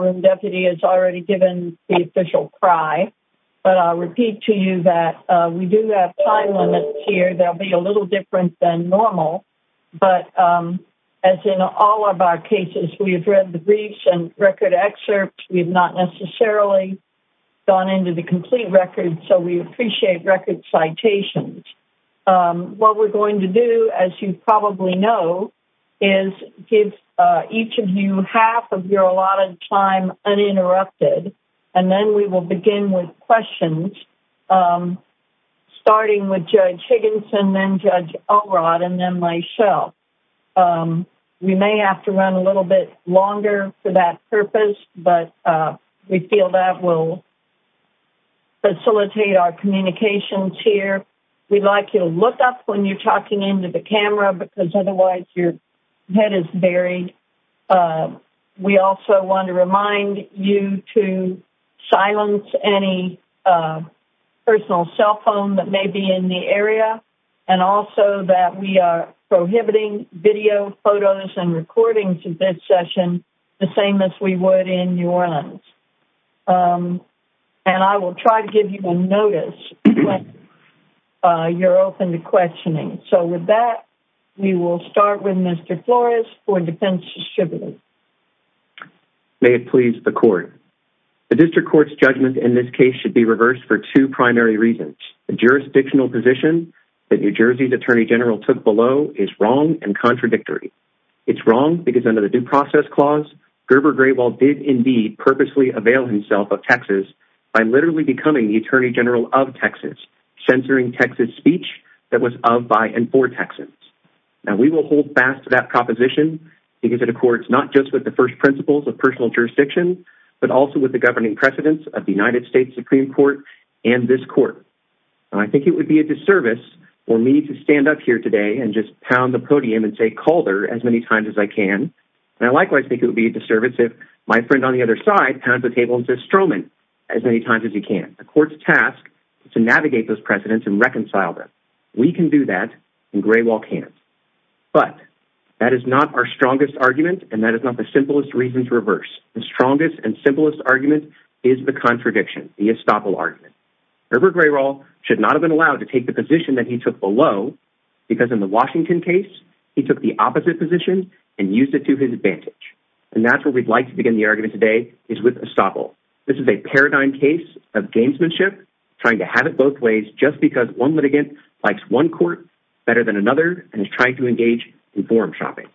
room deputy has already given the official cry but I'll repeat to you that we do have time limits here there'll be a little different than normal but as in all of our cases we have read the briefs and record excerpts we have not necessarily gone into the complete record so we appreciate record citations what we're going to do as you probably know is give each of you half of your a lot of time uninterrupted and then we will begin with questions starting with Judge Higginson then Judge Elrod and then myself we may have to run a little bit longer for that purpose but we feel that will facilitate our communications here we'd like you to look up when you're talking into the also want to remind you to silence any personal cell phone that may be in the area and also that we are prohibiting video photos and recordings of this session the same as we would in New Orleans and I will try to give you a notice you're open to questioning so with that we will start with Mr. Flores for defense distributor may it please the court the district court's judgment in this case should be reversed for two primary reasons the jurisdictional position that New Jersey's Attorney General took below is wrong and contradictory it's wrong because under the due process clause Gerber Great Wall did indeed purposely avail himself of Texas by literally becoming the Attorney General of Texas censoring Texas speech that was of by and for Texans now we will hold fast to that proposition because it accords not just with the first principles of personal jurisdiction but also with the governing precedents of the United States Supreme Court and this court I think it would be a disservice for me to stand up here today and just pound the podium and say Calder as many times as I can and I likewise think it would be a disservice if my friend on the other side pounds the table and says Stroman as many times as you can the court's task to navigate those precedents and but that is not our strongest argument and that is not the simplest reason to reverse the strongest and simplest argument is the contradiction the estoppel argument Gerber Great Wall should not have been allowed to take the position that he took below because in the Washington case he took the opposite position and used it to his advantage and that's what we'd like to begin the argument today is with estoppel this is a paradigm case of gamesmanship trying to have it both ways just because one litigant likes one court better than another and is trying to engage in forum shopping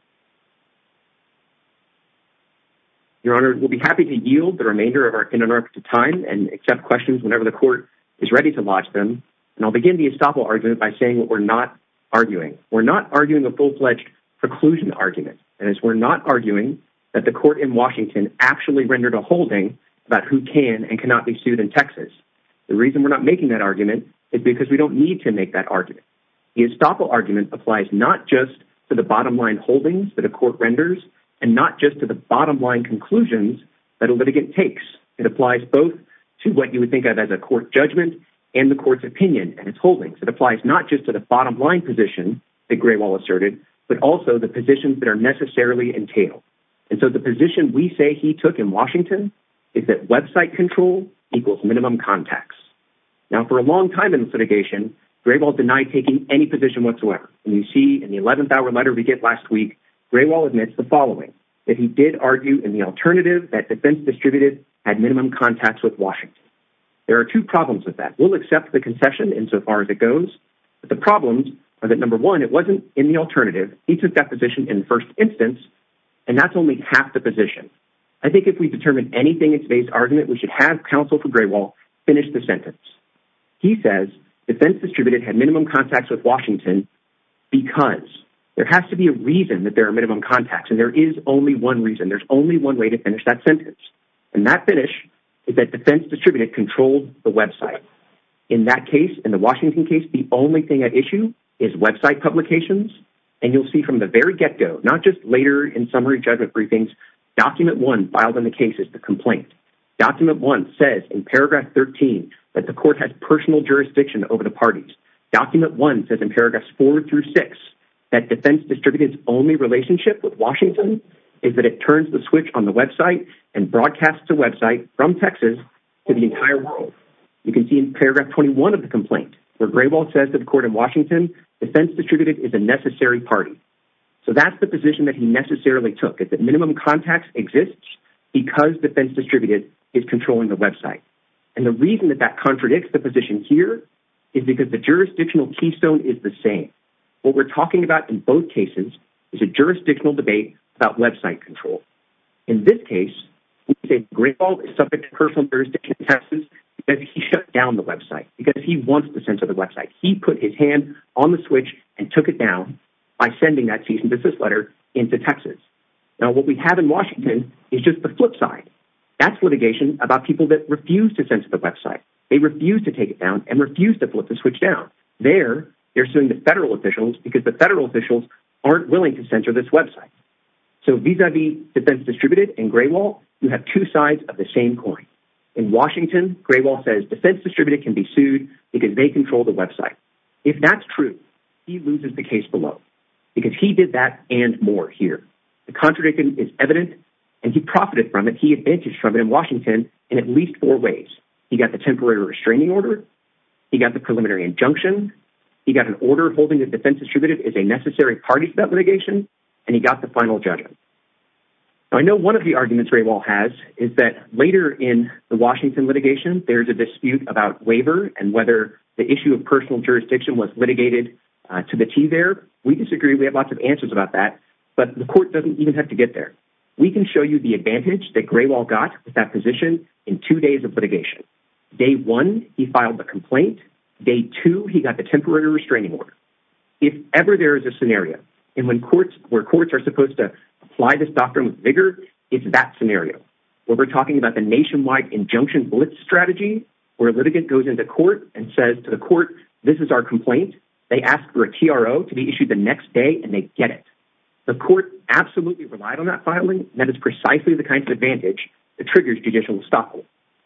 your honor will be happy to yield the remainder of our interrupted time and accept questions whenever the court is ready to watch them and I'll begin the estoppel argument by saying what we're not arguing we're not arguing a full-fledged preclusion argument and as we're not arguing that the court in Washington actually rendered a holding about who can and cannot be sued in Texas the reason we're not making that argument is because we don't need to make that argument the estoppel argument applies not just to the bottom line holdings that a court renders and not just to the bottom line conclusions that a litigant takes it applies both to what you would think of as a court judgment and the court's opinion and its holdings it applies not just to the bottom line position the gray wall asserted but also the positions that are necessarily entailed and so the position we say he took in Washington is that website control equals minimum contacts now for a long time in the litigation gray ball denied taking any position whatsoever and you see in the 11th hour letter we get last week gray wall admits the following if he did argue in the alternative that defense distributed had minimum contacts with Washington there are two problems with that will accept the concession in so far as it goes but the problems are that number one it wasn't in the alternative he took that position in first instance and that's only half the position I think if we determine anything it's based argument we should have counsel for gray wall finish the sentence he says defense distributed had minimum contacts with Washington because there has to be a reason that there are minimum contacts and there is only one reason there's only one way to finish that sentence and that finish is that defense distributed controlled the website in that case in the Washington case the only thing at issue is website publications and you'll see from the very get-go not just later in summary judgment briefings document one filed in the case is the complaint document one says in paragraph 13 that the court has personal jurisdiction over the parties document one says in paragraphs four through six that defense distributors only relationship with Washington is that it turns the switch on the website and broadcasts a website from Texas to the entire world you can see in paragraph 21 of the complaint where gray ball says that the court in Washington defense distributed is a necessary party so that's the position that he necessarily took it that minimum contacts exists because defense distributed is controlling the website and the reason that that contradicts the position here is because the jurisdictional keystone is the same what we're talking about in both cases is a jurisdictional debate about website control in this case we say great all this subject personal jurisdiction passes that he shut down the website because he wants the sense of the website he put his hand on the switch and took it down by sending that season business letter into Texas now what we have in Washington is just the flip side that's litigation about people that refuse to censor the website they refuse to take it down and refuse to flip the switch down there they're suing the federal officials because the federal officials aren't willing to censor this website so vis-a-vis defense distributed and gray wall you have two sides of the same coin in Washington gray wall says defense distributed can be sued because they control the website if that's true he loses the case below because he did that and more here the contradiction is evident and he profited from it he advantaged from it in Washington in at least four ways he got the temporary restraining order he got the preliminary injunction he got an order holding the defense distributed is a necessary party to that litigation and he got the final judgment so I know one of the arguments very well has is that later in the Washington litigation there's a dispute about waiver and whether the issue of personal jurisdiction was litigated to the T there we disagree we have lots of to get there we can show you the advantage that gray wall got with that position in two days of litigation day one he filed a complaint day two he got the temporary restraining order if ever there is a scenario and when courts where courts are supposed to apply this doctrine with vigor it's that scenario what we're talking about the nationwide injunction blitz strategy where a litigant goes into court and says to the court this is our complaint they ask for a TRO to be issued the next day and they get it the court absolutely relied on that filing that is precisely the kind of advantage that triggers judicial estoppel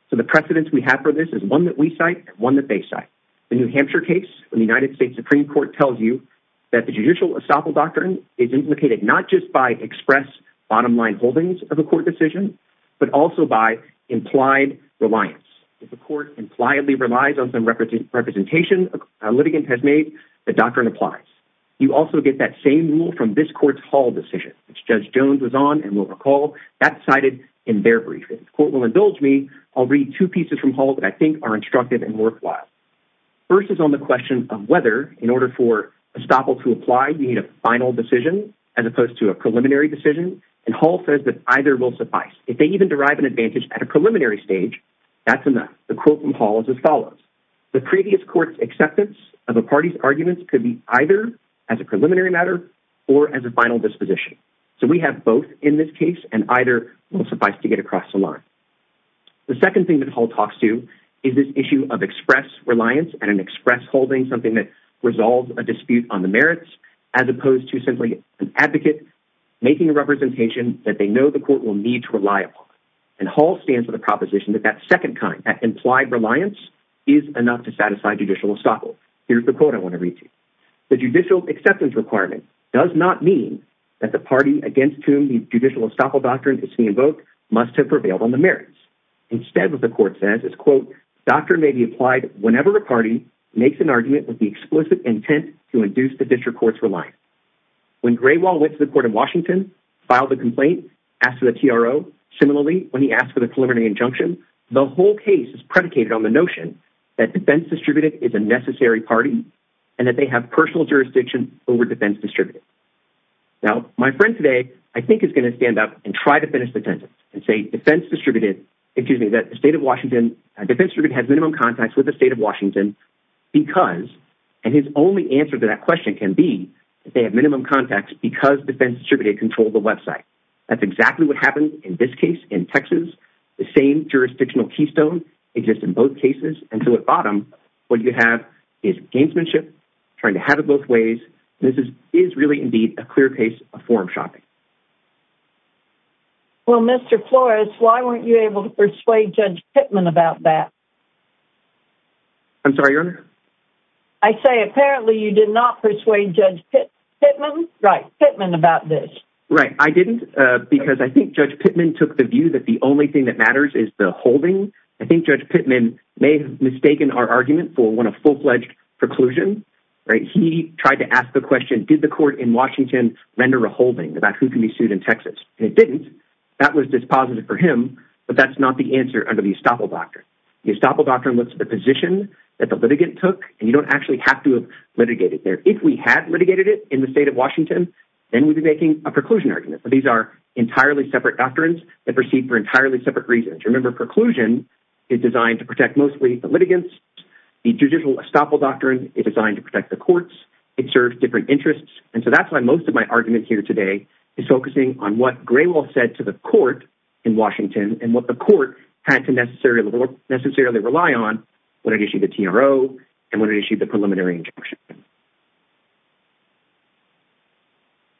so the precedents we have for this is one that we cite one that they cite the New Hampshire case when the United States Supreme Court tells you that the judicial estoppel doctrine is implicated not just by express bottom line holdings of a court decision but also by implied reliance if the court impliedly relies on some represent representation a litigant has made the doctrine applies you also get that same rule from this court's Hall decision which judge Jones was on and will recall that cited in their briefings court will indulge me I'll read two pieces from Hall that I think are instructive and worthwhile first is on the question of whether in order for estoppel to apply we need a final decision as opposed to a preliminary decision and Hall says that either will suffice if they even derive an advantage at a preliminary stage that's enough the quote from Hall is as follows the previous court's acceptance of a party's or as a final disposition so we have both in this case and either will suffice to get across the line the second thing that Hall talks to is this issue of express reliance and an express holding something that resolves a dispute on the merits as opposed to simply an advocate making a representation that they know the court will need to rely upon and Hall stands with a proposition that that second kind that implied reliance is enough to satisfy judicial estoppel here's the quote I want to read you the judicial acceptance requirement does not mean that the party against whom the judicial estoppel doctrine is to invoke must have prevailed on the merits instead of the court says it's quote doctrine may be applied whenever a party makes an argument with the explicit intent to induce the district courts for life when Gray Wall went to the court in Washington filed a complaint asked for the TRO similarly when he asked for the preliminary injunction the whole case is predicated on the notion that defense distributed is a necessary party and that they have personal jurisdiction over defense distributed now my friend today I think is going to stand up and try to finish the sentence and say defense distributed excuse me that the state of Washington defense ribbon has minimum contacts with the state of Washington because and his only answer to that question can be if they have minimum contacts because defense distributed control the website that's exactly what happened in this case in Texas the same jurisdictional keystone exists in both cases and so at bottom what you have is gamesmanship trying to have it both ways this is is really indeed a clear case of forum shopping well mr. Flores why weren't you able to persuade judge Pittman about that I'm sorry I say apparently you did not persuade judge Pittman right Pittman about this right I didn't because I think judge Pittman took the view that the only thing that matters is the holding I think judge Pittman may have mistaken our argument for when a full-fledged preclusion right he tried to ask the question did the court in Washington render a holding about who can be sued in Texas it didn't that was dispositive for him but that's not the answer under the estoppel doctrine the estoppel doctrine looks at the position that the litigant took and you don't actually have to have litigated there if we had litigated it in the state of Washington then we'd be a preclusion argument but these are entirely separate doctrines that proceed for entirely separate reasons remember preclusion is designed to protect mostly the litigants the judicial estoppel doctrine is designed to protect the courts it serves different interests and so that's why most of my argument here today is focusing on what Graywell said to the court in Washington and what the court had to necessarily rely on when it issued the TRO and when it issued the preliminary injunction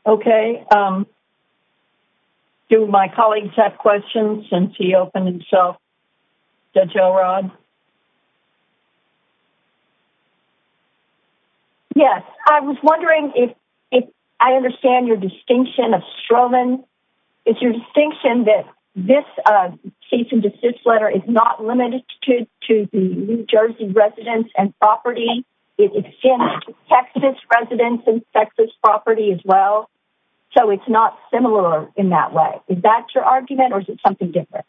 okay um do my colleagues have questions since he opened himself Judge Elrod yes I was wondering if I understand your distinction of Stroman it's your distinction that this cease and desist letter is not limited to to the New Jersey residents and property it extends to Texas residents and Texas property as well so it's not similar in that way is that your argument or is it something different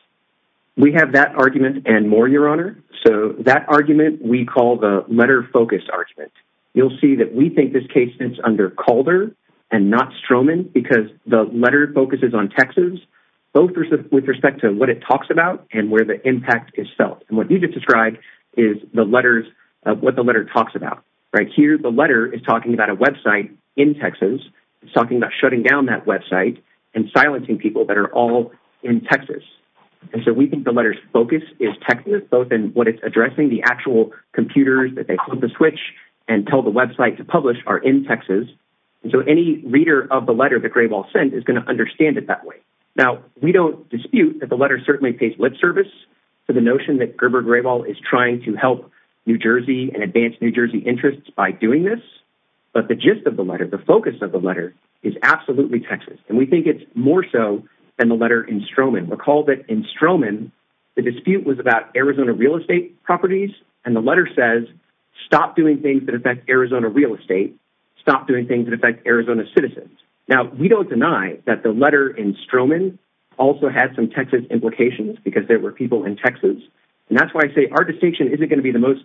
we have that argument and more your honor so that argument we call the letter focus argument you'll see that we think this case sits under Calder and not Stroman because the letter focuses on Texas both with respect to what it talks about and where the impact is felt and what you just described is the letters what the letter talks about right here the letter is talking about a website in Texas it's talking about shutting down that website and silencing people that are all in Texas and so we think the letters focus is Texas both in what it's addressing the actual computers that they flip the switch and tell the website to publish are in Texas and so any reader of the letter that Grayball sent is going to understand it that way now we don't dispute that the letter certainly pays lip service to the notion that Gerber Grayball is trying to help New Jersey and advanced New Jersey interests by doing this but the gist of the letter the focus of the letter is absolutely Texas and we think it's more so than the letter in Stroman recall that in Stroman the dispute was about Arizona real estate properties and the letter says stop doing things that affect Arizona real estate stop doing things that affect Arizona citizens now we don't deny that the letter in Stroman also had some Texas implications because there were people in Texas and that's why I say our distinction isn't going to be the most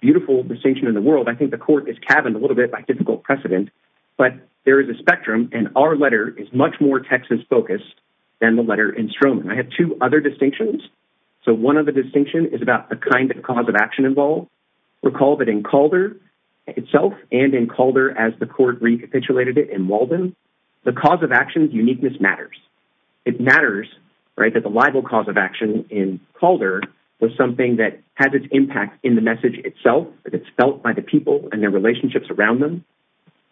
beautiful distinction in the court is cabined a little bit by typical precedent but there is a spectrum and our letter is much more Texas focused than the letter in Stroman I have two other distinctions so one of the distinction is about the kind of cause of action involved recall that in Calder itself and in Calder as the court recapitulated it in Walden the cause of actions uniqueness matters it matters right that the libel cause of action in Calder was something that has its impact in the message itself but it's felt by the people and their relationships around them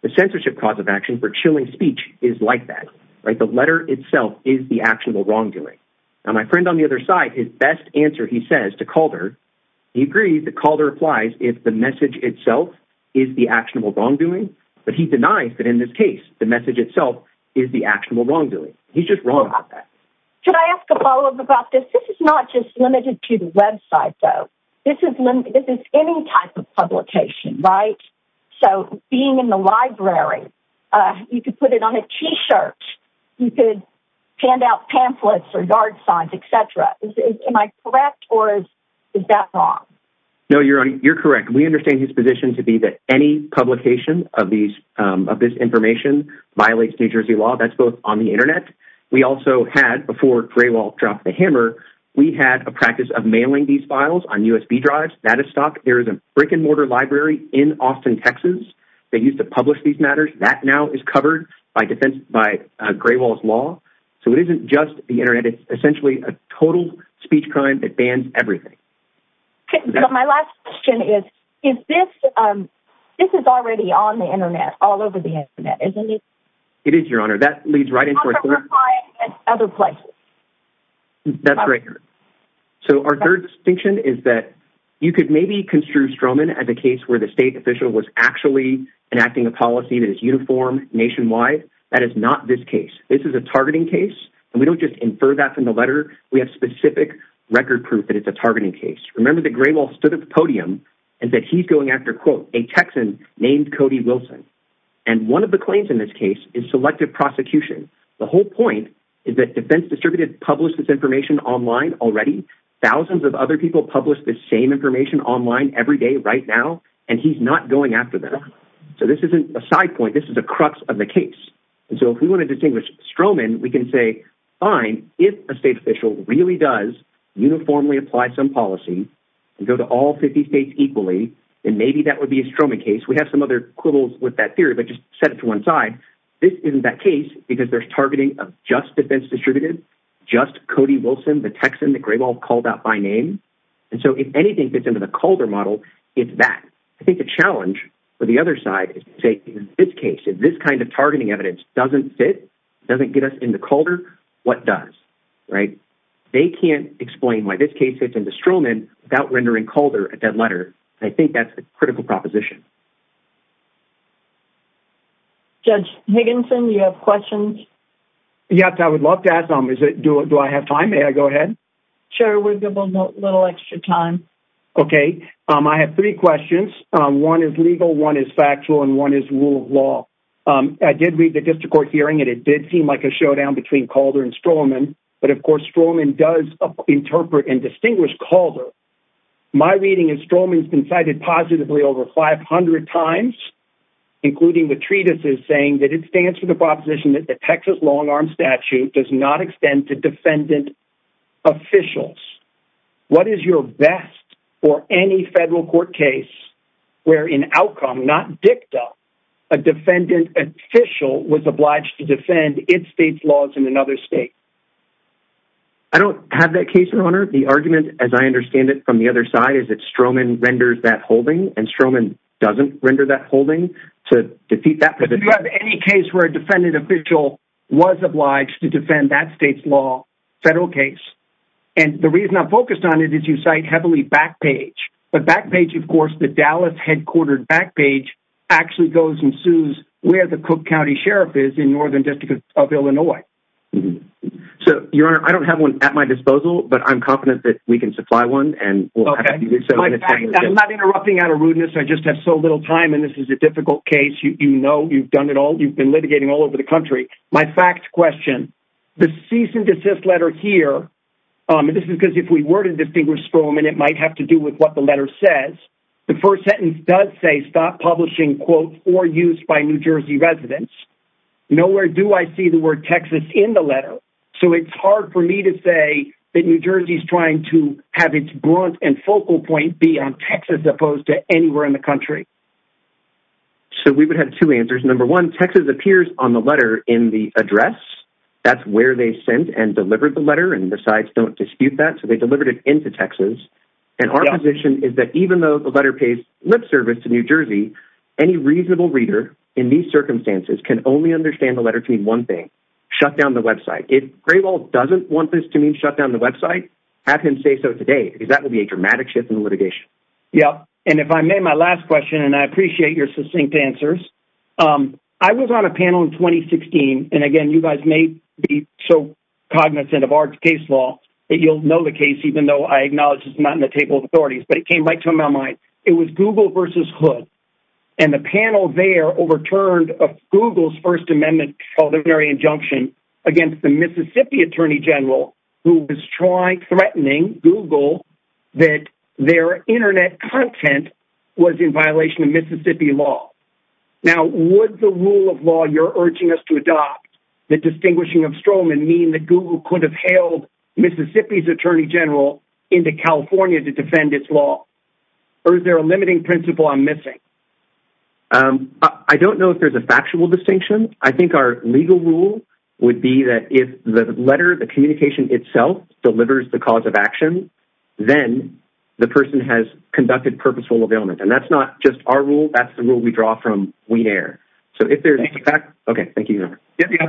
the censorship cause of action for chilling speech is like that right the letter itself is the actionable wrongdoing now my friend on the other side his best answer he says to Calder he agreed that Calder applies if the message itself is the actionable wrongdoing but he denies that in this case the message itself is the actionable wrongdoing he's just wrong about that should I ask a follow-up about this this is not just limited to website though this is limited to any type of publication right so being in the library you could put it on a t-shirt you could hand out pamphlets or yard signs etc am I correct or is that wrong no you're on you're correct we understand his position to be that any publication of these of this information violates New Jersey law that's both on the internet we also had before Grey these files on USB drives that is stock there is a brick-and-mortar library in Austin Texas they used to publish these matters that now is covered by defense by Gray Walls law so it isn't just the internet it's essentially a total speech crime that bans everything my last question is is this this is already on the internet all over the internet isn't it it is your honor that leads right other places that's right so our third distinction is that you could maybe construe Stroman as a case where the state official was actually enacting a policy that is uniform nationwide that is not this case this is a targeting case and we don't just infer that from the letter we have specific record proof that it's a targeting case remember the gray wall stood at the podium and that he's going after quote a Texan named Cody Wilson and one of the claims in this case is selective prosecution the whole point is that defense distributed publish this information online already thousands of other people publish the same information online every day right now and he's not going after them so this isn't a side point this is a crux of the case and so if we want to distinguish Stroman we can say fine if a state official really does uniformly apply some policy and go to all 50 states equally and maybe that would be a Stroman case we have some other quibbles with that theory but just set it to one side this isn't that case because there's targeting of just defense distributed just Cody Wilson the Texan the gray ball called out by name and so if anything fits into the Calder model it's that I think the challenge for the other side is to say in this case if this kind of targeting evidence doesn't fit doesn't get us into Calder what does right they can't explain why this case fits into Stroman without rendering Calder a dead letter I think that's a Higginson you have questions yes I would love to ask them is it do it do I have time may I go ahead sure we're good little extra time okay I have three questions one is legal one is factual and one is rule of law I did read the district court hearing and it did seem like a showdown between Calder and Stroman but of course Stroman does interpret and distinguish Calder my reading is Stroman's been cited positively over 500 times including the saying that it stands for the proposition that the Texas long-arm statute does not extend to defendant officials what is your best or any federal court case where in outcome not dicta a defendant official was obliged to defend its state's laws in another state I don't have that case your honor the argument as I understand it from the other side is that Stroman renders that holding to defeat that any case where a defendant official was obliged to defend that state's law federal case and the reason I'm focused on it is you cite heavily back page but back page of course the Dallas headquartered back page actually goes and sues where the Cook County Sheriff is in northern district of Illinois so your honor I don't have one at my disposal but I'm confident that we can supply one and I'm not interrupting out of rudeness I just have so little time and this is a difficult case you know you've done it all you've been litigating all over the country my fact question the cease and desist letter here this is because if we were to distinguish Stroman it might have to do with what the letter says the first sentence does say stop publishing quote or use by New Jersey residents nowhere do I see the word Texas in the letter so it's hard for me to say that New Jersey is trying to have its broad and focal point be on Texas opposed to anywhere in the country so we would have two answers number one Texas appears on the letter in the address that's where they sent and delivered the letter and besides don't dispute that so they delivered it into Texas and our position is that even though the letter pays lip service to New Jersey any reasonable reader in these circumstances can only understand the letter to me one thing shut down the website it great wall doesn't want this to mean shut down the website have him say so today because that would be a dramatic shift in litigation yeah and if I made my last question and I appreciate your succinct answers I was on a panel in 2016 and again you guys may be so cognizant of our case law that you'll know the case even though I acknowledge it's not in the table of authorities but it came back to my mind it was Google versus hood and the panel there overturned Google's First Amendment ordinary injunction against the Mississippi Attorney General who was trying threatening Google that their internet content was in violation of Mississippi law now would the rule of law you're urging us to adopt the distinguishing of Stroman mean that Google could have hailed Mississippi's Attorney General into California to defend its law or is there a limiting principle I'm missing I don't know if there's a factual distinction I think our legal rule would be that if the letter the communication itself delivers the cause of action then the person has conducted purposeful availment and that's not just our rule that's the rule we draw from we air so if there's a fact okay thank you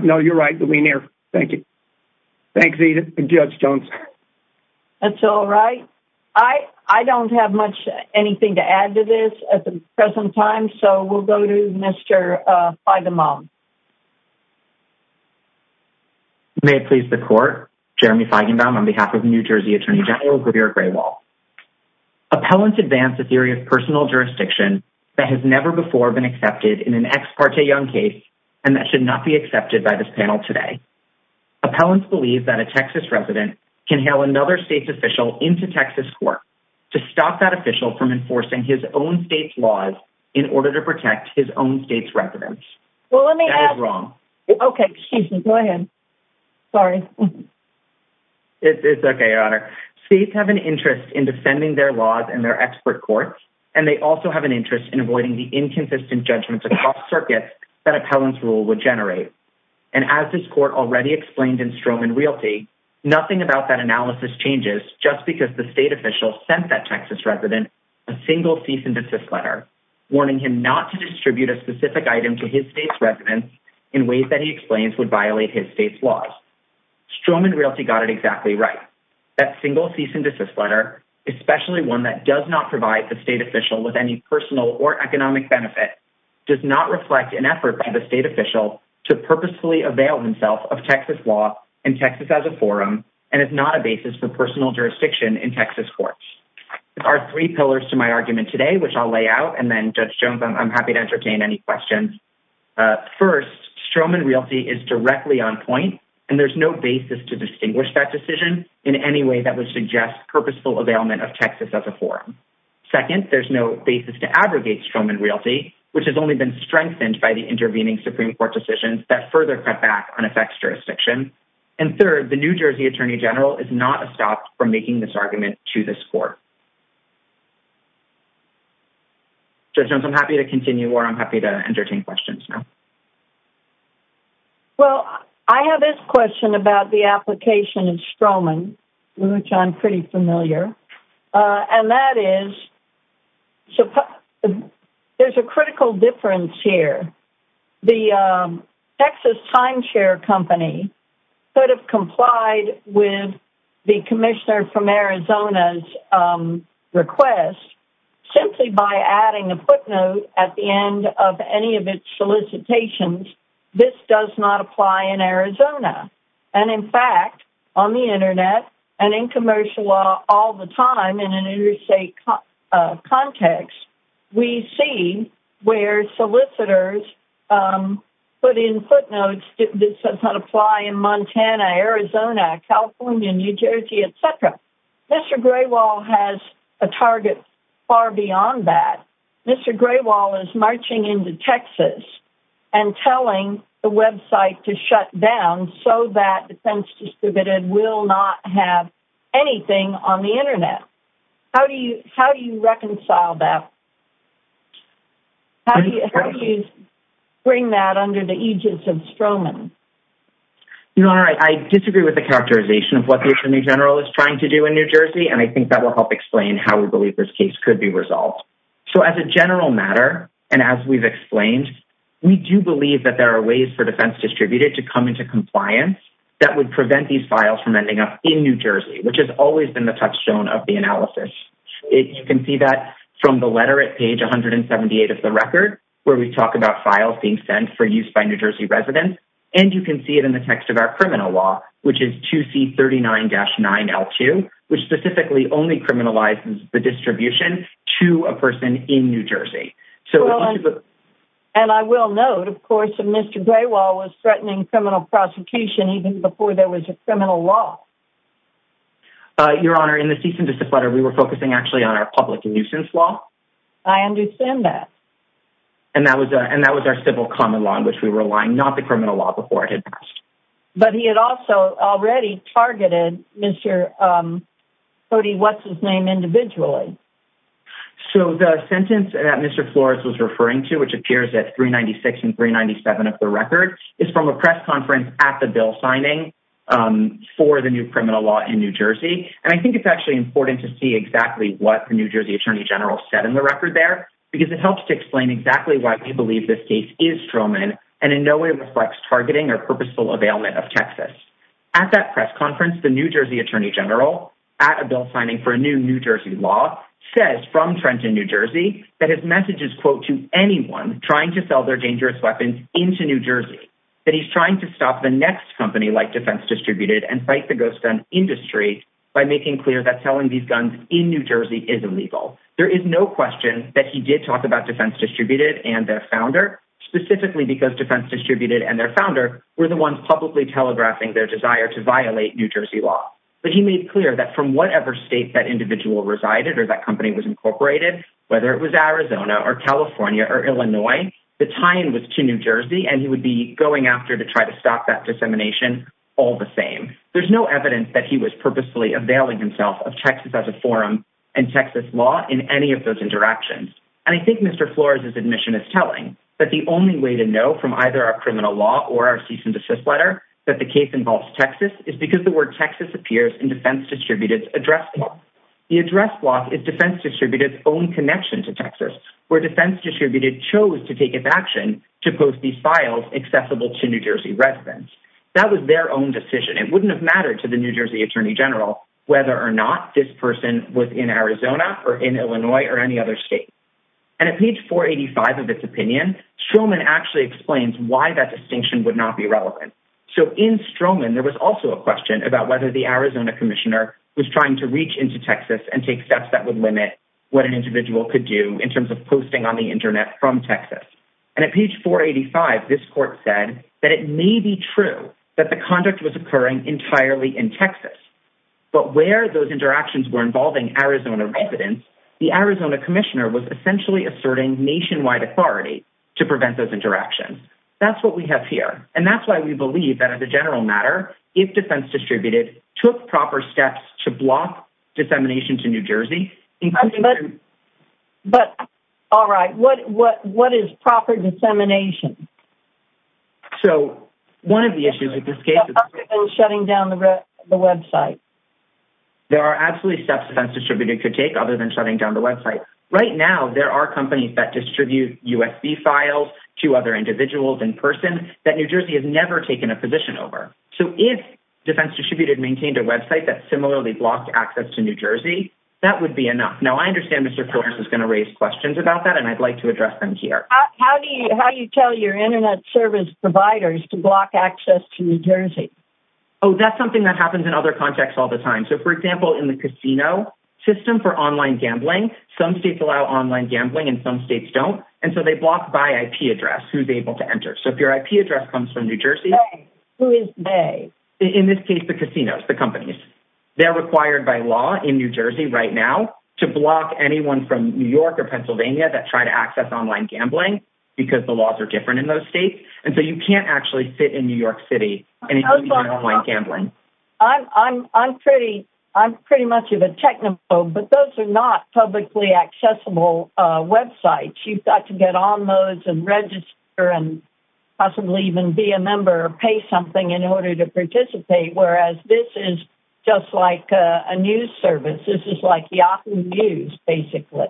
no you're right the lean air thank you thank the judge Jones that's all right I I don't have much anything to mom may it please the court Jeremy Feigenbaum on behalf of New Jersey Attorney General Greer gray wall appellants advanced a theory of personal jurisdiction that has never before been accepted in an ex parte young case and that should not be accepted by this panel today appellants believe that a Texas resident can hail another state's official into Texas court to stop that official from enforcing his own state's laws in order to protect his own state's residents wrong okay go ahead sorry it's okay honor states have an interest in defending their laws and their expert courts and they also have an interest in avoiding the inconsistent judgments across circuits that appellants rule would generate and as this court already explained in Stroman realty nothing about that analysis changes just because the state official sent that Texas resident a single cease and desist letter warning him not to distribute a specific item to his state's residents in ways that he explains would violate his state's laws Stroman realty got it exactly right that single cease and desist letter especially one that does not provide the state official with any personal or economic benefit does not reflect an effort by the state official to purposefully avail himself of Texas law and Texas as a forum and it's not a basis for personal jurisdiction in Texas courts are three pillars to my argument today which I'll lay out and then judge Jones I'm happy to entertain any questions first Stroman realty is directly on point and there's no basis to distinguish that decision in any way that would suggest purposeful availment of Texas as a forum second there's no basis to abrogate Stroman realty which has only been strengthened by the intervening Supreme Court decisions that further cut back on effects jurisdiction and third the New Jersey Attorney General is not a stop for making this argument to this court judge Jones I'm happy to continue or I'm happy to entertain questions now well I have this question about the application in Stroman which I'm pretty familiar and that is so there's a critical difference here the Texas timeshare company could have complied with the Commissioner from Arizona's request simply by adding a footnote at the end of any of its solicitations this does not apply in Arizona and in fact on the internet and in commercial law all the time in an interstate context we see where solicitors put in footnotes that says not apply in Montana Arizona California New Jersey etc mr. Graywall has a target far beyond that mr. Graywall is marching into Texas and telling the website to shut down so that defense distributed will not have anything on the internet how do you how do you reconcile that how do you bring that under the aegis of Stroman you know all right I disagree with the characterization of what the Attorney General is trying to do in New Jersey and I think that will help explain how we believe this case could be resolved so as a general matter and as we've explained we do believe that there are ways for defense distributed to come into compliance that would prevent these files from ending up in New Jersey which has always been the touchstone of the analysis it you can see that from the letter at page 178 of the record where we talk about files being sent for use by New Jersey residents and you can see it in the text of our criminal law which is to see 39-9 l2 which specifically only criminalizes the distribution to a person in New Jersey so and I will note of course if mr. Graywall was threatening criminal prosecution even before there was a criminal law your honor in the cease and desist letter we were focusing actually on our public nuisance law I understand that and that was and that was our civil common law in which we were lying not the criminal law before it had passed but he had also already targeted mr. Cody what's his name individually so the sentence that mr. Flores was referring to which appears at 396 and 397 of the record is from a press conference at the bill signing for the new criminal law in New Jersey and I think it's actually important to see exactly what the New Jersey Attorney General said in the record there because it helps to explain exactly why we is Truman and in no way reflects targeting or purposeful availment of Texas at that press conference the New Jersey Attorney General at a bill signing for a new New Jersey law says from Trenton New Jersey that his message is quote to anyone trying to sell their dangerous weapons into New Jersey that he's trying to stop the next company like defense distributed and fight the ghost gun industry by making clear that telling these guns in New Jersey is illegal there is no question that he did talk about defense distributed and their founder specifically because defense distributed and their founder were the ones publicly telegraphing their desire to violate New Jersey law but he made clear that from whatever state that individual resided or that company was incorporated whether it was Arizona or California or Illinois the time was to New Jersey and he would be going after to try to stop that dissemination all the same there's no evidence that he was purposely availing himself of Texas as a forum and Texas law in any of those directions and I think mr. Flores is admission is telling that the only way to know from either our criminal law or our cease and desist letter that the case involves Texas is because the word Texas appears in defense distributed address the address block is defense distributed own connection to Texas where defense distributed chose to take its action to post these files accessible to New Jersey residents that was their own decision it wouldn't have mattered to the New Jersey Attorney General whether or not this person was in Arizona or in Illinois or any other state and at page 485 of its opinion Truman actually explains why that distinction would not be relevant so in Stroman there was also a question about whether the Arizona Commissioner was trying to reach into Texas and take steps that would limit what an individual could do in terms of posting on the Internet from Texas and at page 485 this court said that it may be true that the conduct was occurring entirely in Texas but where those interactions were involving Arizona residents the Arizona Commissioner was essentially asserting nationwide authority to prevent those interactions that's what we have here and that's why we believe that as a general matter if defense distributed took proper steps to block dissemination to New Jersey but all right what what what is proper dissemination so one of the issues with this case shutting down the website there are absolutely steps defense distributed could take other than shutting down the website right now there are companies that distribute USB files to other individuals in person that New Jersey has never taken a position over so if defense distributed maintained a website that similarly blocked access to New Jersey that would be enough now I understand Mr. is going to raise questions about that and I'd like to address them here how do you tell your internet service providers to block access to New Jersey oh that's something that happens in other contexts all the time so for example in the casino system for online gambling some states allow online gambling and some states don't and so they block by IP address who's able to enter so if your IP address comes from New Jersey who is a in this case the casinos the companies they're required by law in New Jersey right now to block anyone from New York or Pennsylvania that try to access online gambling because the laws are different in those states and so you can't actually fit in New York City and it's like gambling I'm I'm pretty I'm pretty much of a technical but those are not publicly accessible websites you've got to get on those and register and possibly even be a member pay something in order to participate whereas this is just like a news service this is like Yahoo News basically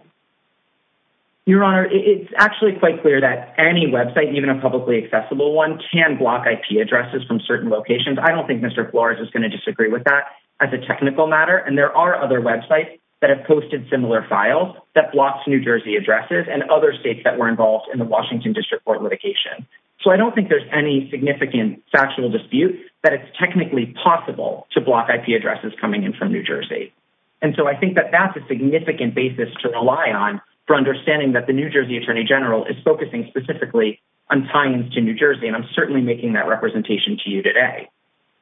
your honor it's actually quite clear that any website even a publicly accessible one can block IP addresses from certain locations I don't think mr. Flores is going to disagree with that as a technical matter and there are other websites that have posted similar files that blocks New Jersey addresses and other states that were involved in the Washington District Court litigation so I don't think there's any significant factual dispute that it's technically possible to block IP addresses coming in from New Jersey and so I think that that's a significant basis to rely on for understanding that the New Jersey Attorney General is focusing specifically on tying to New Jersey and I'm certainly making that representation to you today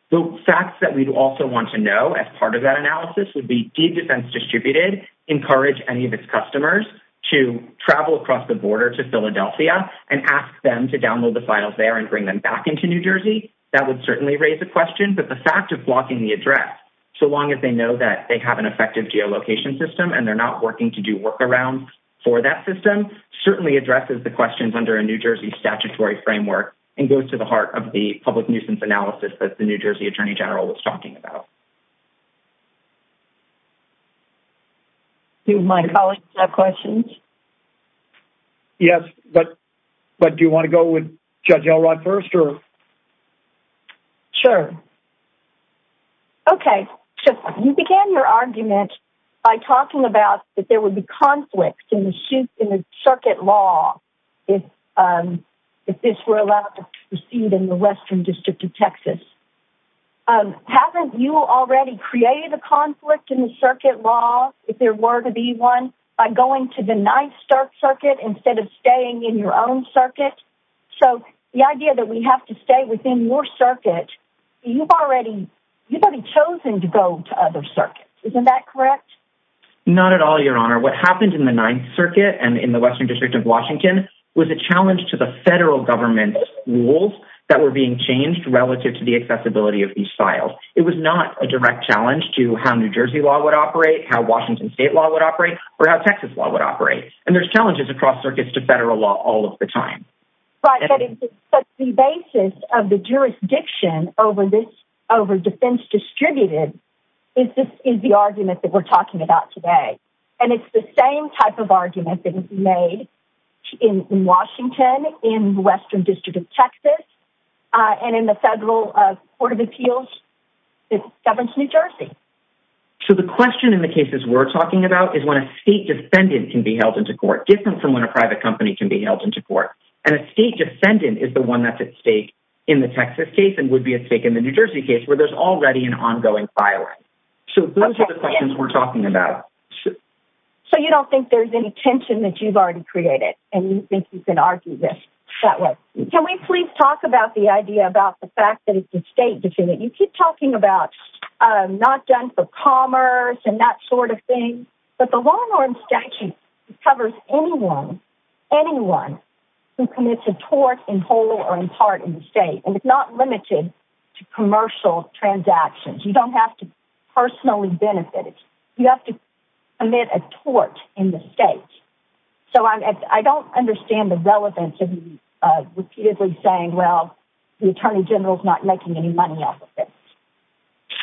so facts that we'd also want to know as part of that analysis would be deed defense distributed encourage any of its files there and bring them back into New Jersey that would certainly raise a question but the fact of blocking the address so long as they know that they have an effective geolocation system and they're not working to do work around for that system certainly addresses the questions under a New Jersey statutory framework and goes to the heart of the public nuisance analysis that the New Jersey Attorney General was talking about do my colleagues have questions yes but but do you want to go with judge Elrod first or sure okay so you began your argument by talking about that there would be conflicts in the suit in the circuit law if if this were allowed to create a conflict in the circuit law if there were to be one by going to the nice dark circuit instead of staying in your own circuit so the idea that we have to stay within your circuit you've already you've already chosen to go to other circuits isn't that correct not at all your honor what happened in the Ninth Circuit and in the Western District of Washington was a challenge to the federal government rules that were being changed relative to the challenge to how New Jersey law would operate how Washington state law would operate or how Texas law would operate and there's challenges across circuits to federal law all of the time but the basis of the jurisdiction over this over defense distributed is this is the argument that we're talking about today and it's the same type of argument that is made in Washington in Western District of Texas and in the federal Court of Appeals it governs New Jersey so the question in the cases we're talking about is when a state defendant can be held into court different from when a private company can be held into court and a state defendant is the one that's at stake in the Texas case and would be at stake in the New Jersey case where there's already an ongoing violence so those are the questions we're talking about so you don't think there's any tension that you've already created and you think you can argue this that way can we please talk about the idea about the fact that it's a state defendant you keep talking about not done for commerce and that sort of thing but the law and statute covers anyone anyone who commits a tort in whole or in part in the state and it's not limited to commercial transactions you don't have to personally benefit it you have to commit a tort in the state so I'm at I don't understand the relevance of you repeatedly saying well the Attorney General's not making any money off of it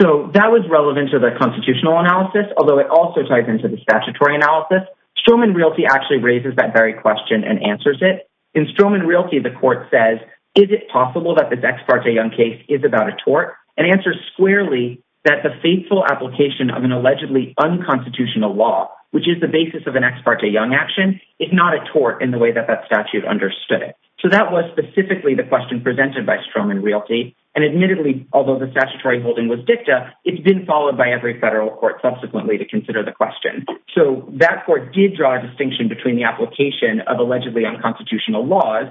so that was relevant to the constitutional analysis although it also ties into the statutory analysis Stroman Realty actually raises that very question and answers it in Stroman Realty the court says is it possible that this ex parte young case is about a tort and answers squarely that the faithful application of an allegedly unconstitutional law which is the basis of an ex parte young action is not a tort in the way that that statute understood it so that was specifically the question presented by Stroman Realty and admittedly although the statutory holding was dicta it's been followed by every federal court subsequently to consider the question so that court did draw a distinction between the application of allegedly unconstitutional laws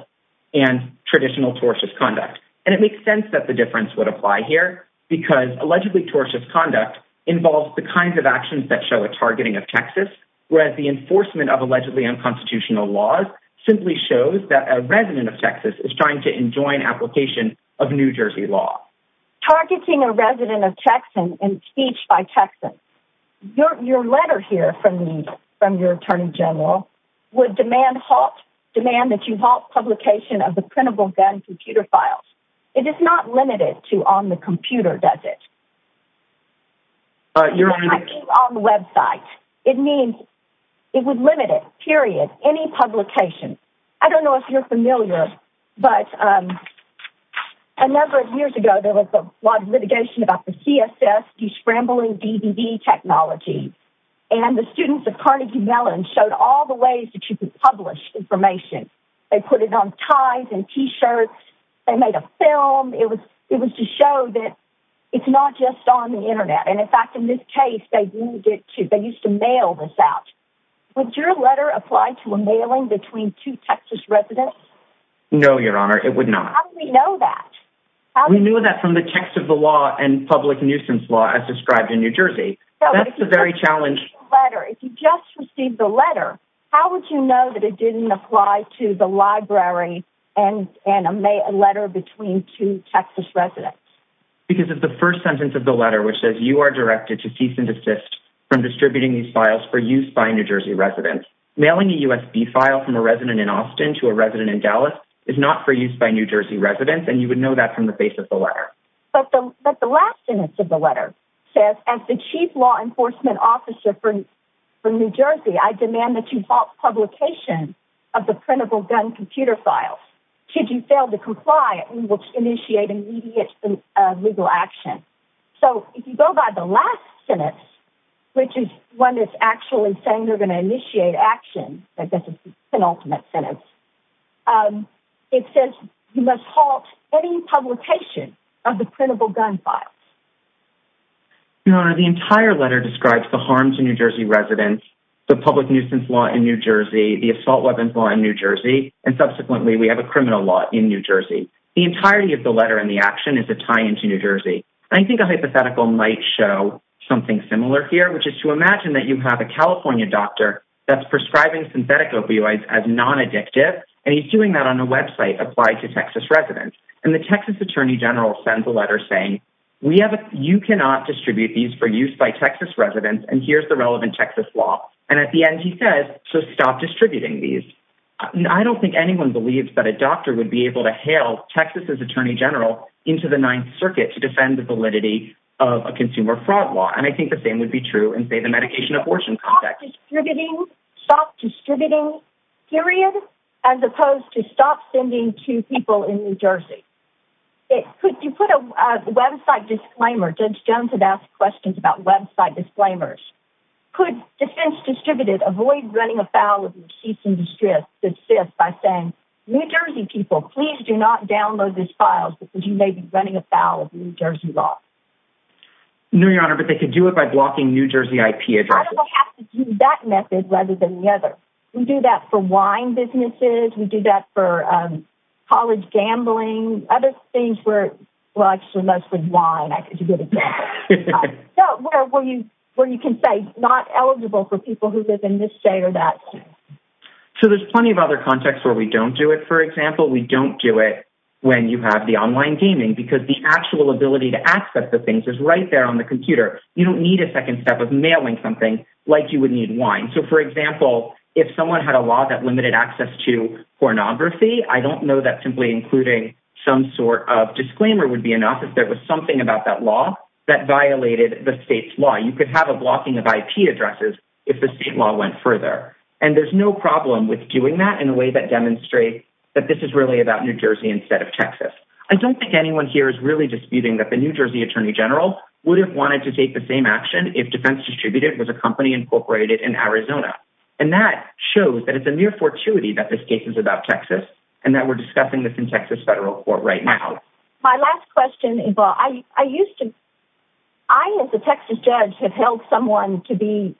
and traditional tortious conduct and it makes sense that the difference would apply here because allegedly tortious conduct involves the kinds of actions that show a targeting of Texas whereas the enforcement of allegedly unconstitutional laws simply shows that a resident of Texas is trying to enjoin application of New Jersey law targeting a resident of Texan impeached by Texans your letter here from me from your Attorney General would demand halt demand that you halt publication of the printable gun computer files it is not limited to on the computer does it uh you're on the website it means it would limit it period any publication I don't know if you're familiar but um a number of years ago there was a lot of litigation about the CSS de-scrambling DVD technology and the students of Carnegie Mellon showed all the ways that you could publish information they put it on ties and t-shirts they made a film it was it was to show that it's not just on the internet and in fact in this case they needed to they used to mail this out would your letter apply to a mailing between two Texas residents no your honor it would not how do we know that we knew that from the text of the law and public nuisance law as described in New Jersey that's the very challenge letter if you just received the letter how would you know that it didn't apply to the library and and a letter between two Texas residents because of the first sentence of the letter which says you are directed to cease and desist from distributing these files for use by New Jersey residents mailing a USB file from a resident in Austin to a resident in Dallas is not for use by New Jersey residents and you would know that from the face of the letter but the but the last sentence of the letter says as the chief law enforcement officer for from New Jersey I demand that you halt publication of the printable gun computer files should you fail to comply we will initiate immediate legal action so if you go by the last sentence which is one that's actually saying they're going to initiate action that this is an ultimate sentence it says you must halt any publication of the printable gun files your honor the entire letter describes the harms in New Jersey residents the public nuisance law in New Jersey the we have a criminal law in New Jersey the entirety of the letter in the action is a tie-in to New Jersey I think a hypothetical might show something similar here which is to imagine that you have a California doctor that's prescribing synthetic opioids as non-addictive and he's doing that on a website applied to Texas residents and the Texas Attorney General sends a letter saying we have a you cannot distribute these for use by Texas residents and here's the relevant Texas law and at the end he says so stop distributing these I don't think anyone believes that a doctor would be able to hail Texas's Attorney General into the Ninth Circuit to defend the validity of a consumer fraud law and I think the same would be true and say the medication abortion context stop distributing stop distributing period as opposed to stop sending to people in New Jersey it could you put a website disclaimer judge Jones had asked questions about website disclaimers could defense distributed avoid running afoul of receipts in distress good fifth by saying New Jersey people please do not download these files because you may be running afoul of New Jersey law no your honor but they could do it by blocking New Jersey IP address I don't have to do that method rather than the other we do that for wine businesses we do that for um college gambling other things where well I know where you where you can say not eligible for people who live in this day or that so there's plenty of other contexts where we don't do it for example we don't do it when you have the online gaming because the actual ability to access the things is right there on the computer you don't need a second step of mailing something like you would need wine so for example if someone had a law that limited access to pornography I don't know that simply including some of disclaimer would be enough if there was something about that law that violated the state's law you could have a blocking of IP addresses if the state law went further and there's no problem with doing that in a way that demonstrates that this is really about New Jersey instead of Texas I don't think anyone here is really disputing that the New Jersey attorney general would have wanted to take the same action if defense distributed was a company incorporated in Arizona and that shows that it's a mere fortuity that this case is about Texas and that we're discussing this in Texas federal court right now my last question is well I I used to I as a Texas judge have held someone to be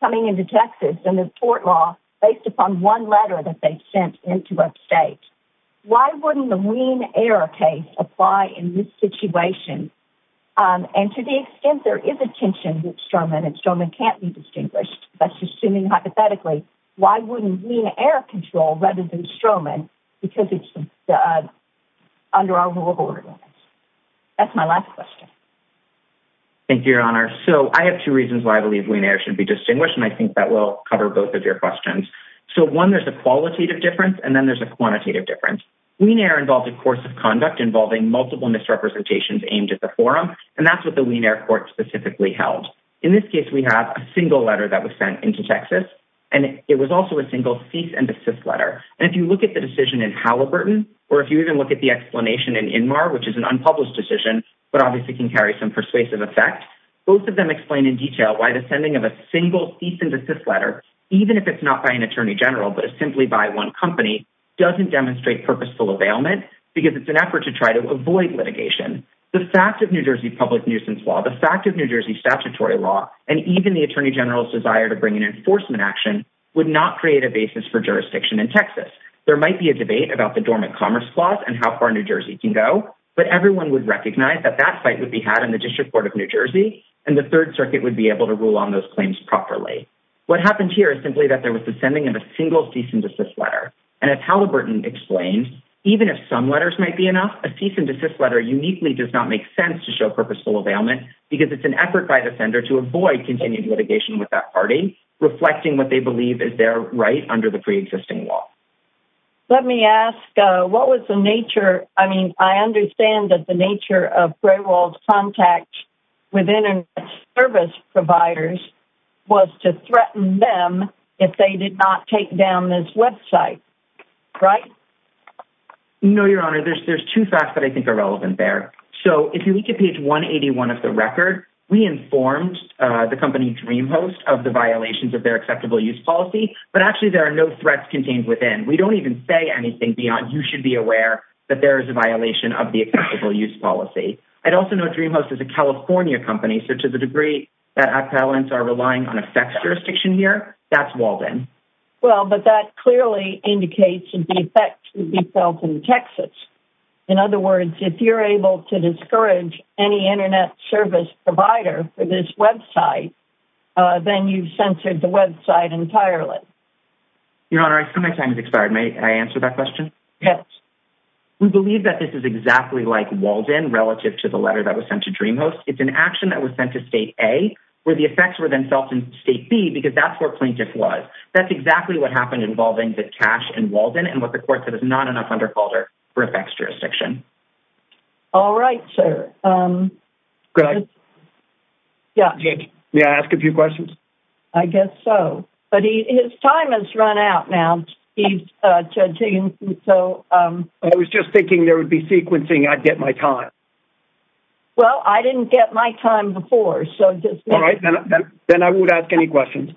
coming into Texas and the court law based upon one letter that they sent into upstate why wouldn't the ween air case apply in this situation and to the extent there is a tension with stroman and stroman can't be distinguished that's assuming hypothetically why wouldn't ween air rather than stroman because it's under our rule of order that's my last question thank you your honor so I have two reasons why I believe we should be distinguished and I think that will cover both of your questions so one there's a qualitative difference and then there's a quantitative difference ween air involved a course of conduct involving multiple misrepresentations aimed at the forum and that's what the ween air court specifically held in this case we have a single letter that was sent into Texas and it was also a single cease and desist letter and if you look at the decision in Halliburton or if you even look at the explanation in Inmar which is an unpublished decision but obviously can carry some persuasive effect both of them explain in detail why the sending of a single cease and desist letter even if it's not by an attorney general but it's simply by one company doesn't demonstrate purposeful availment because it's an effort to try to avoid litigation the fact of New Jersey public nuisance law the fact of New Jersey statutory law and even the attorney general's desire to bring an enforcement action would not create a basis for jurisdiction in Texas there might be a debate about the dormant commerce clause and how far New Jersey can go but everyone would recognize that that fight would be had in the District Court of New Jersey and the Third Circuit would be able to rule on those claims properly what happened here is simply that there was the sending of a single cease and desist letter and as Halliburton explained even if some letters might be enough a cease and desist letter uniquely does not make sense to show purposeful availment because it's an effort by the sender to avoid continued litigation with that pre-existing law let me ask what was the nature I mean I understand that the nature of payroll contact with internet service providers was to threaten them if they did not take down this website right no your honor there's there's two facts that I think are relevant there so if you look at page 181 of the record we informed the company dream host of the violations of their acceptable use policy but actually there are no threats contained within we don't even say anything beyond you should be aware that there is a violation of the acceptable use policy I'd also know dream host is a California company so to the degree that appellants are relying on a sex jurisdiction here that's Walden well but that clearly indicates that the effect would be felt in Texas in other words if you're able to discourage any internet service provider for this website uh then you've censored the website entirely your honor I think my time has expired may I answer that question yes we believe that this is exactly like Walden relative to the letter that was sent to dream host it's an action that was sent to state a where the effects were themselves in state b because that's where plaintiff was that's exactly what happened involving the cash and Walden and what the court said is not enough under sex jurisdiction all right sir um yeah yeah ask a few questions I guess so but he his time has run out now he's uh judging so um I was just thinking there would be sequencing I'd get my time well I didn't get my time before so just all right then then I would ask any questions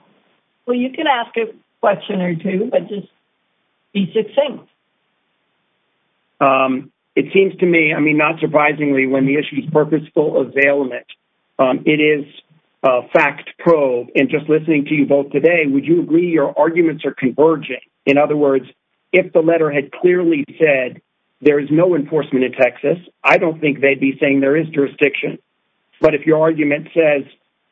well you can ask a question or two but just be succinct um it seems to me I mean not surprisingly when the issue is purposeful availment um it is a fact probe and just listening to you both today would you agree your arguments are converging in other words if the letter had clearly said there is no enforcement in Texas I don't think they'd be saying there is jurisdiction but if your argument says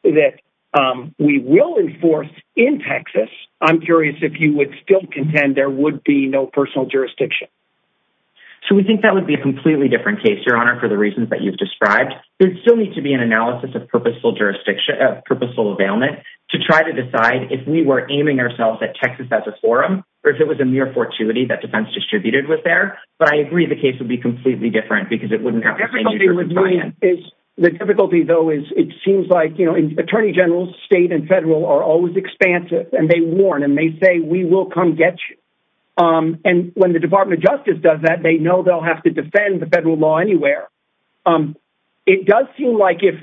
that um we will enforce in Texas I'm curious if you would still contend there would be no personal jurisdiction so we think that would be a completely different case your honor for the reasons that you've described there'd still need to be an analysis of purposeful jurisdiction of purposeful availment to try to decide if we were aiming ourselves at Texas as a forum or if it was a mere fortuity that defense distributed was there but I agree the case would be completely different because it wouldn't have everything with me is the difficulty though is it seems like attorney generals state and federal are always expansive and they warn and they say we will come get you um and when the department of justice does that they know they'll have to defend the federal law anywhere um it does seem like if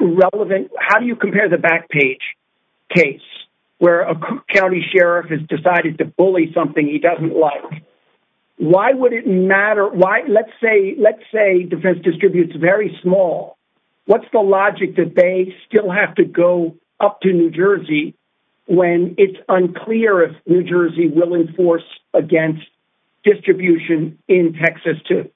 relevant how do you compare the back page case where a county sheriff has decided to bully something he doesn't like why would it matter why let's say let's say defense distributes very small what's the logic that they still have to go up to New Jersey when it's unclear if New Jersey will enforce against distribution in Texas too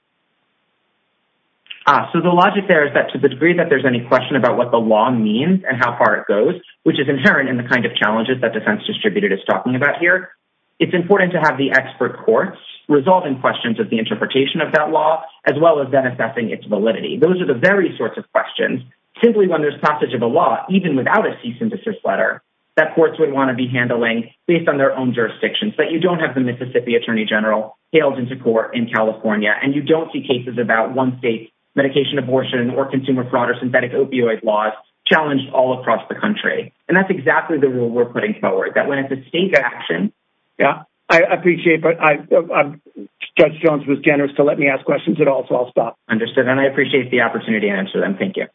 so the logic there is that to the degree that there's any question about what the law means and how far it goes which is inherent in the kind of challenges that defense distributed is talking about here it's important to have the expert courts resolving questions of the interpretation of that law as well as then assessing its validity those are the very sorts of questions simply when there's passage of a law even without a cease and desist letter that courts would want to be handling based on their own jurisdictions but you don't have the Mississippi attorney general hailed into court in California and you don't see cases about one state medication abortion or consumer fraud or synthetic opioid laws challenged all across the country and that's exactly the rule we're putting forward that when it's a state action yeah I appreciate but I judge Jones was generous to let me ask questions at all so I'll stop understood and I appreciate the opportunity to answer them thank you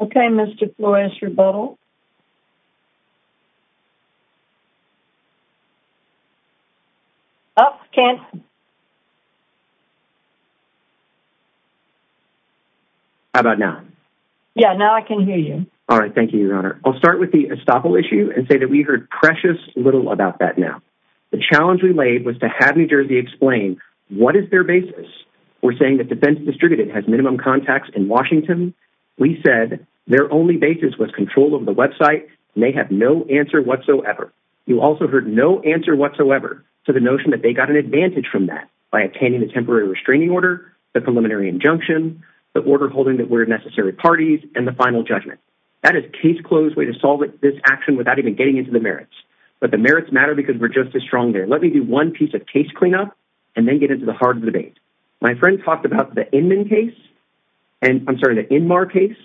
okay Mr. Flores rebuttal oh can't how about now yeah now I can hear you all right thank you your honor I'll start with the estoppel issue and say that we heard precious little about that now the challenge we laid was to have new jersey explain what is their basis we're saying that defense distributed has minimum contacts in Washington we said their only basis was control of the website and they have no answer whatsoever you also heard no answer whatsoever to the notion that they got an advantage from that by obtaining the temporary restraining order the preliminary injunction the order holding that we're necessary parties and the final judgment that is case closed way to solve this action without even getting into the merits but the merits matter because we're just as strong there let me do one piece of case cleanup and then get into the heart of the debate my friend talked about the Inman case and I'm sorry the Inmar case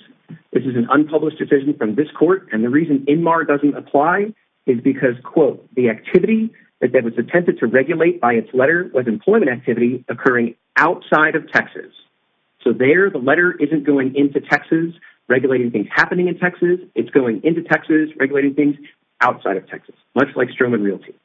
this is an unpublished decision from this court and the reason Inmar doesn't apply is because quote the activity that was attempted to regulate by its letter was employment activity occurring outside of Texas so there the letter isn't going into Texas regulating things happening in Texas it's going into Texas regulating things outside of Texas much like Stroman Realty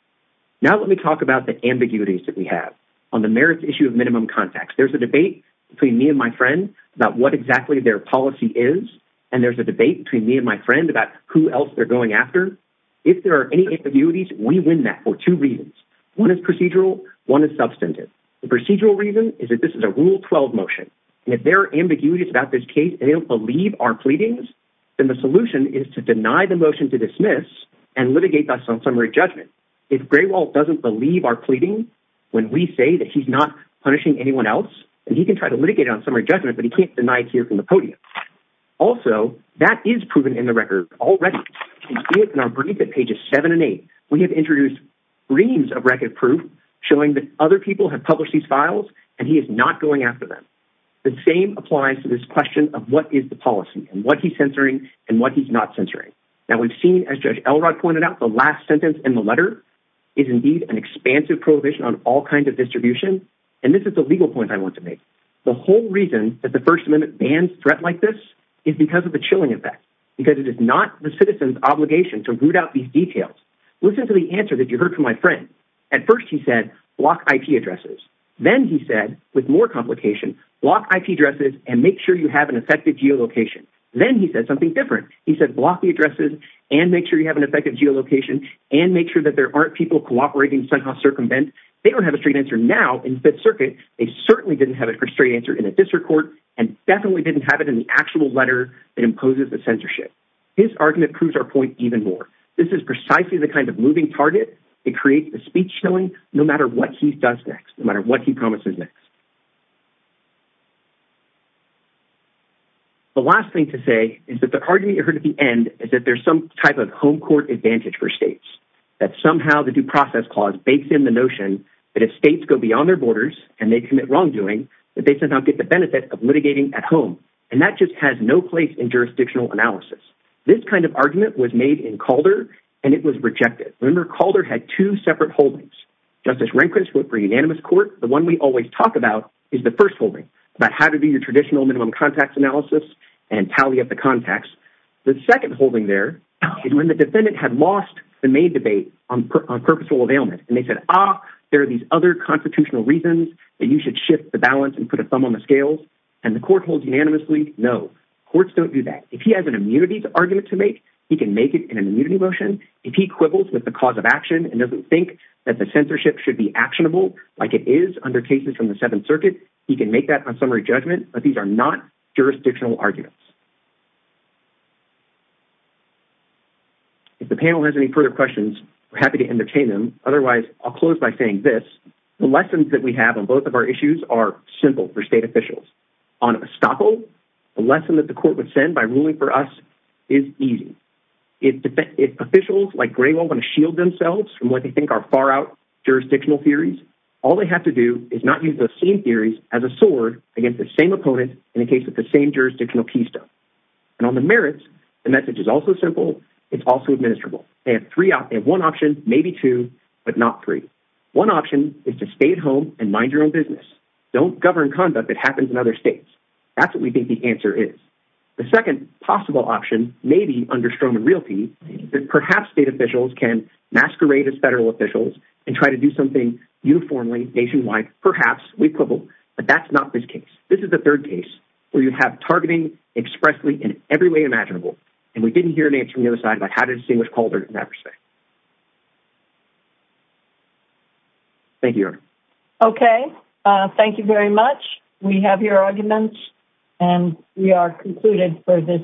now let me talk about the ambiguities that we have on the merits issue of minimum contacts there's a debate between me and my friend about what exactly their policy is and there's a debate between me and my friend about who else they're going after if there are any ambiguities we win that for two reasons one is procedural one is substantive the procedural reason is that this is a rule 12 motion and if there are ambiguities about this case they don't believe our pleadings then the solution is to deny the motion to dismiss and litigate us on summary judgment if Graywalt doesn't believe our pleading when we say that he's not punishing anyone else and he can try to litigate on summary judgment but he can't deny it here from the podium also that is proven in the record already you see it in our brief at pages seven and eight we have introduced reams of record proof showing that other people have published these files and he is not going after the same applies to this question of what is the policy and what he's censoring and what he's not censoring now we've seen as judge Elrod pointed out the last sentence in the letter is indeed an expansive prohibition on all kinds of distribution and this is the legal point i want to make the whole reason that the first amendment bans threat like this is because of the chilling effect because it is not the citizen's obligation to root out these details listen to the answer that you heard from my friend at first he said block ip addresses then he said with more complication block ip addresses and make sure you have an effective geolocation then he said something different he said block the addresses and make sure you have an effective geolocation and make sure that there aren't people cooperating somehow circumvent they don't have a straight answer now in fifth circuit they certainly didn't have it for straight answer in a district court and definitely didn't have it in the actual letter that imposes the censorship his argument proves our point even more this is precisely the kind of moving target it creates the speech showing no matter what he does next no matter what he promises next the last thing to say is that the argument you heard at the end is that there's some type of home court advantage for states that somehow the due process clause bakes in the notion that if states go beyond their borders and they commit wrongdoing that they somehow get the benefit of litigating at home and that just has no place in jurisdictional analysis this kind of separate holdings justice rehnquist wrote for unanimous court the one we always talk about is the first holding about how to do your traditional minimum contacts analysis and tally up the contacts the second holding there is when the defendant had lost the main debate on purposeful availment and they said ah there are these other constitutional reasons that you should shift the balance and put a thumb on the scales and the court holds unanimously no courts don't do that if he has an immunity argument to make he can make it in an immunity motion if he quibbles with the cause of action and doesn't think that the censorship should be actionable like it is under cases from the seventh circuit he can make that on summary judgment but these are not jurisdictional arguments if the panel has any further questions we're happy to entertain them otherwise i'll close by saying this the lessons that we have on both of our issues are simple for state officials on estoppel the lesson that the court would send by going to shield themselves from what they think are far out jurisdictional theories all they have to do is not use those same theories as a sword against the same opponent in the case of the same jurisdictional keystone and on the merits the message is also simple it's also administrable they have three out they have one option maybe two but not three one option is to stay at home and mind your own business don't govern conduct that happens in other states that's what we think the answer is the second possible option may be under stroman realty perhaps state officials can masquerade as federal officials and try to do something uniformly nationwide perhaps we quibble but that's not this case this is the third case where you have targeting expressly in every way imaginable and we didn't hear an answer from the other side about how to distinguish calder never say thank you okay uh thank you very much we have your arguments and we are concluded for this today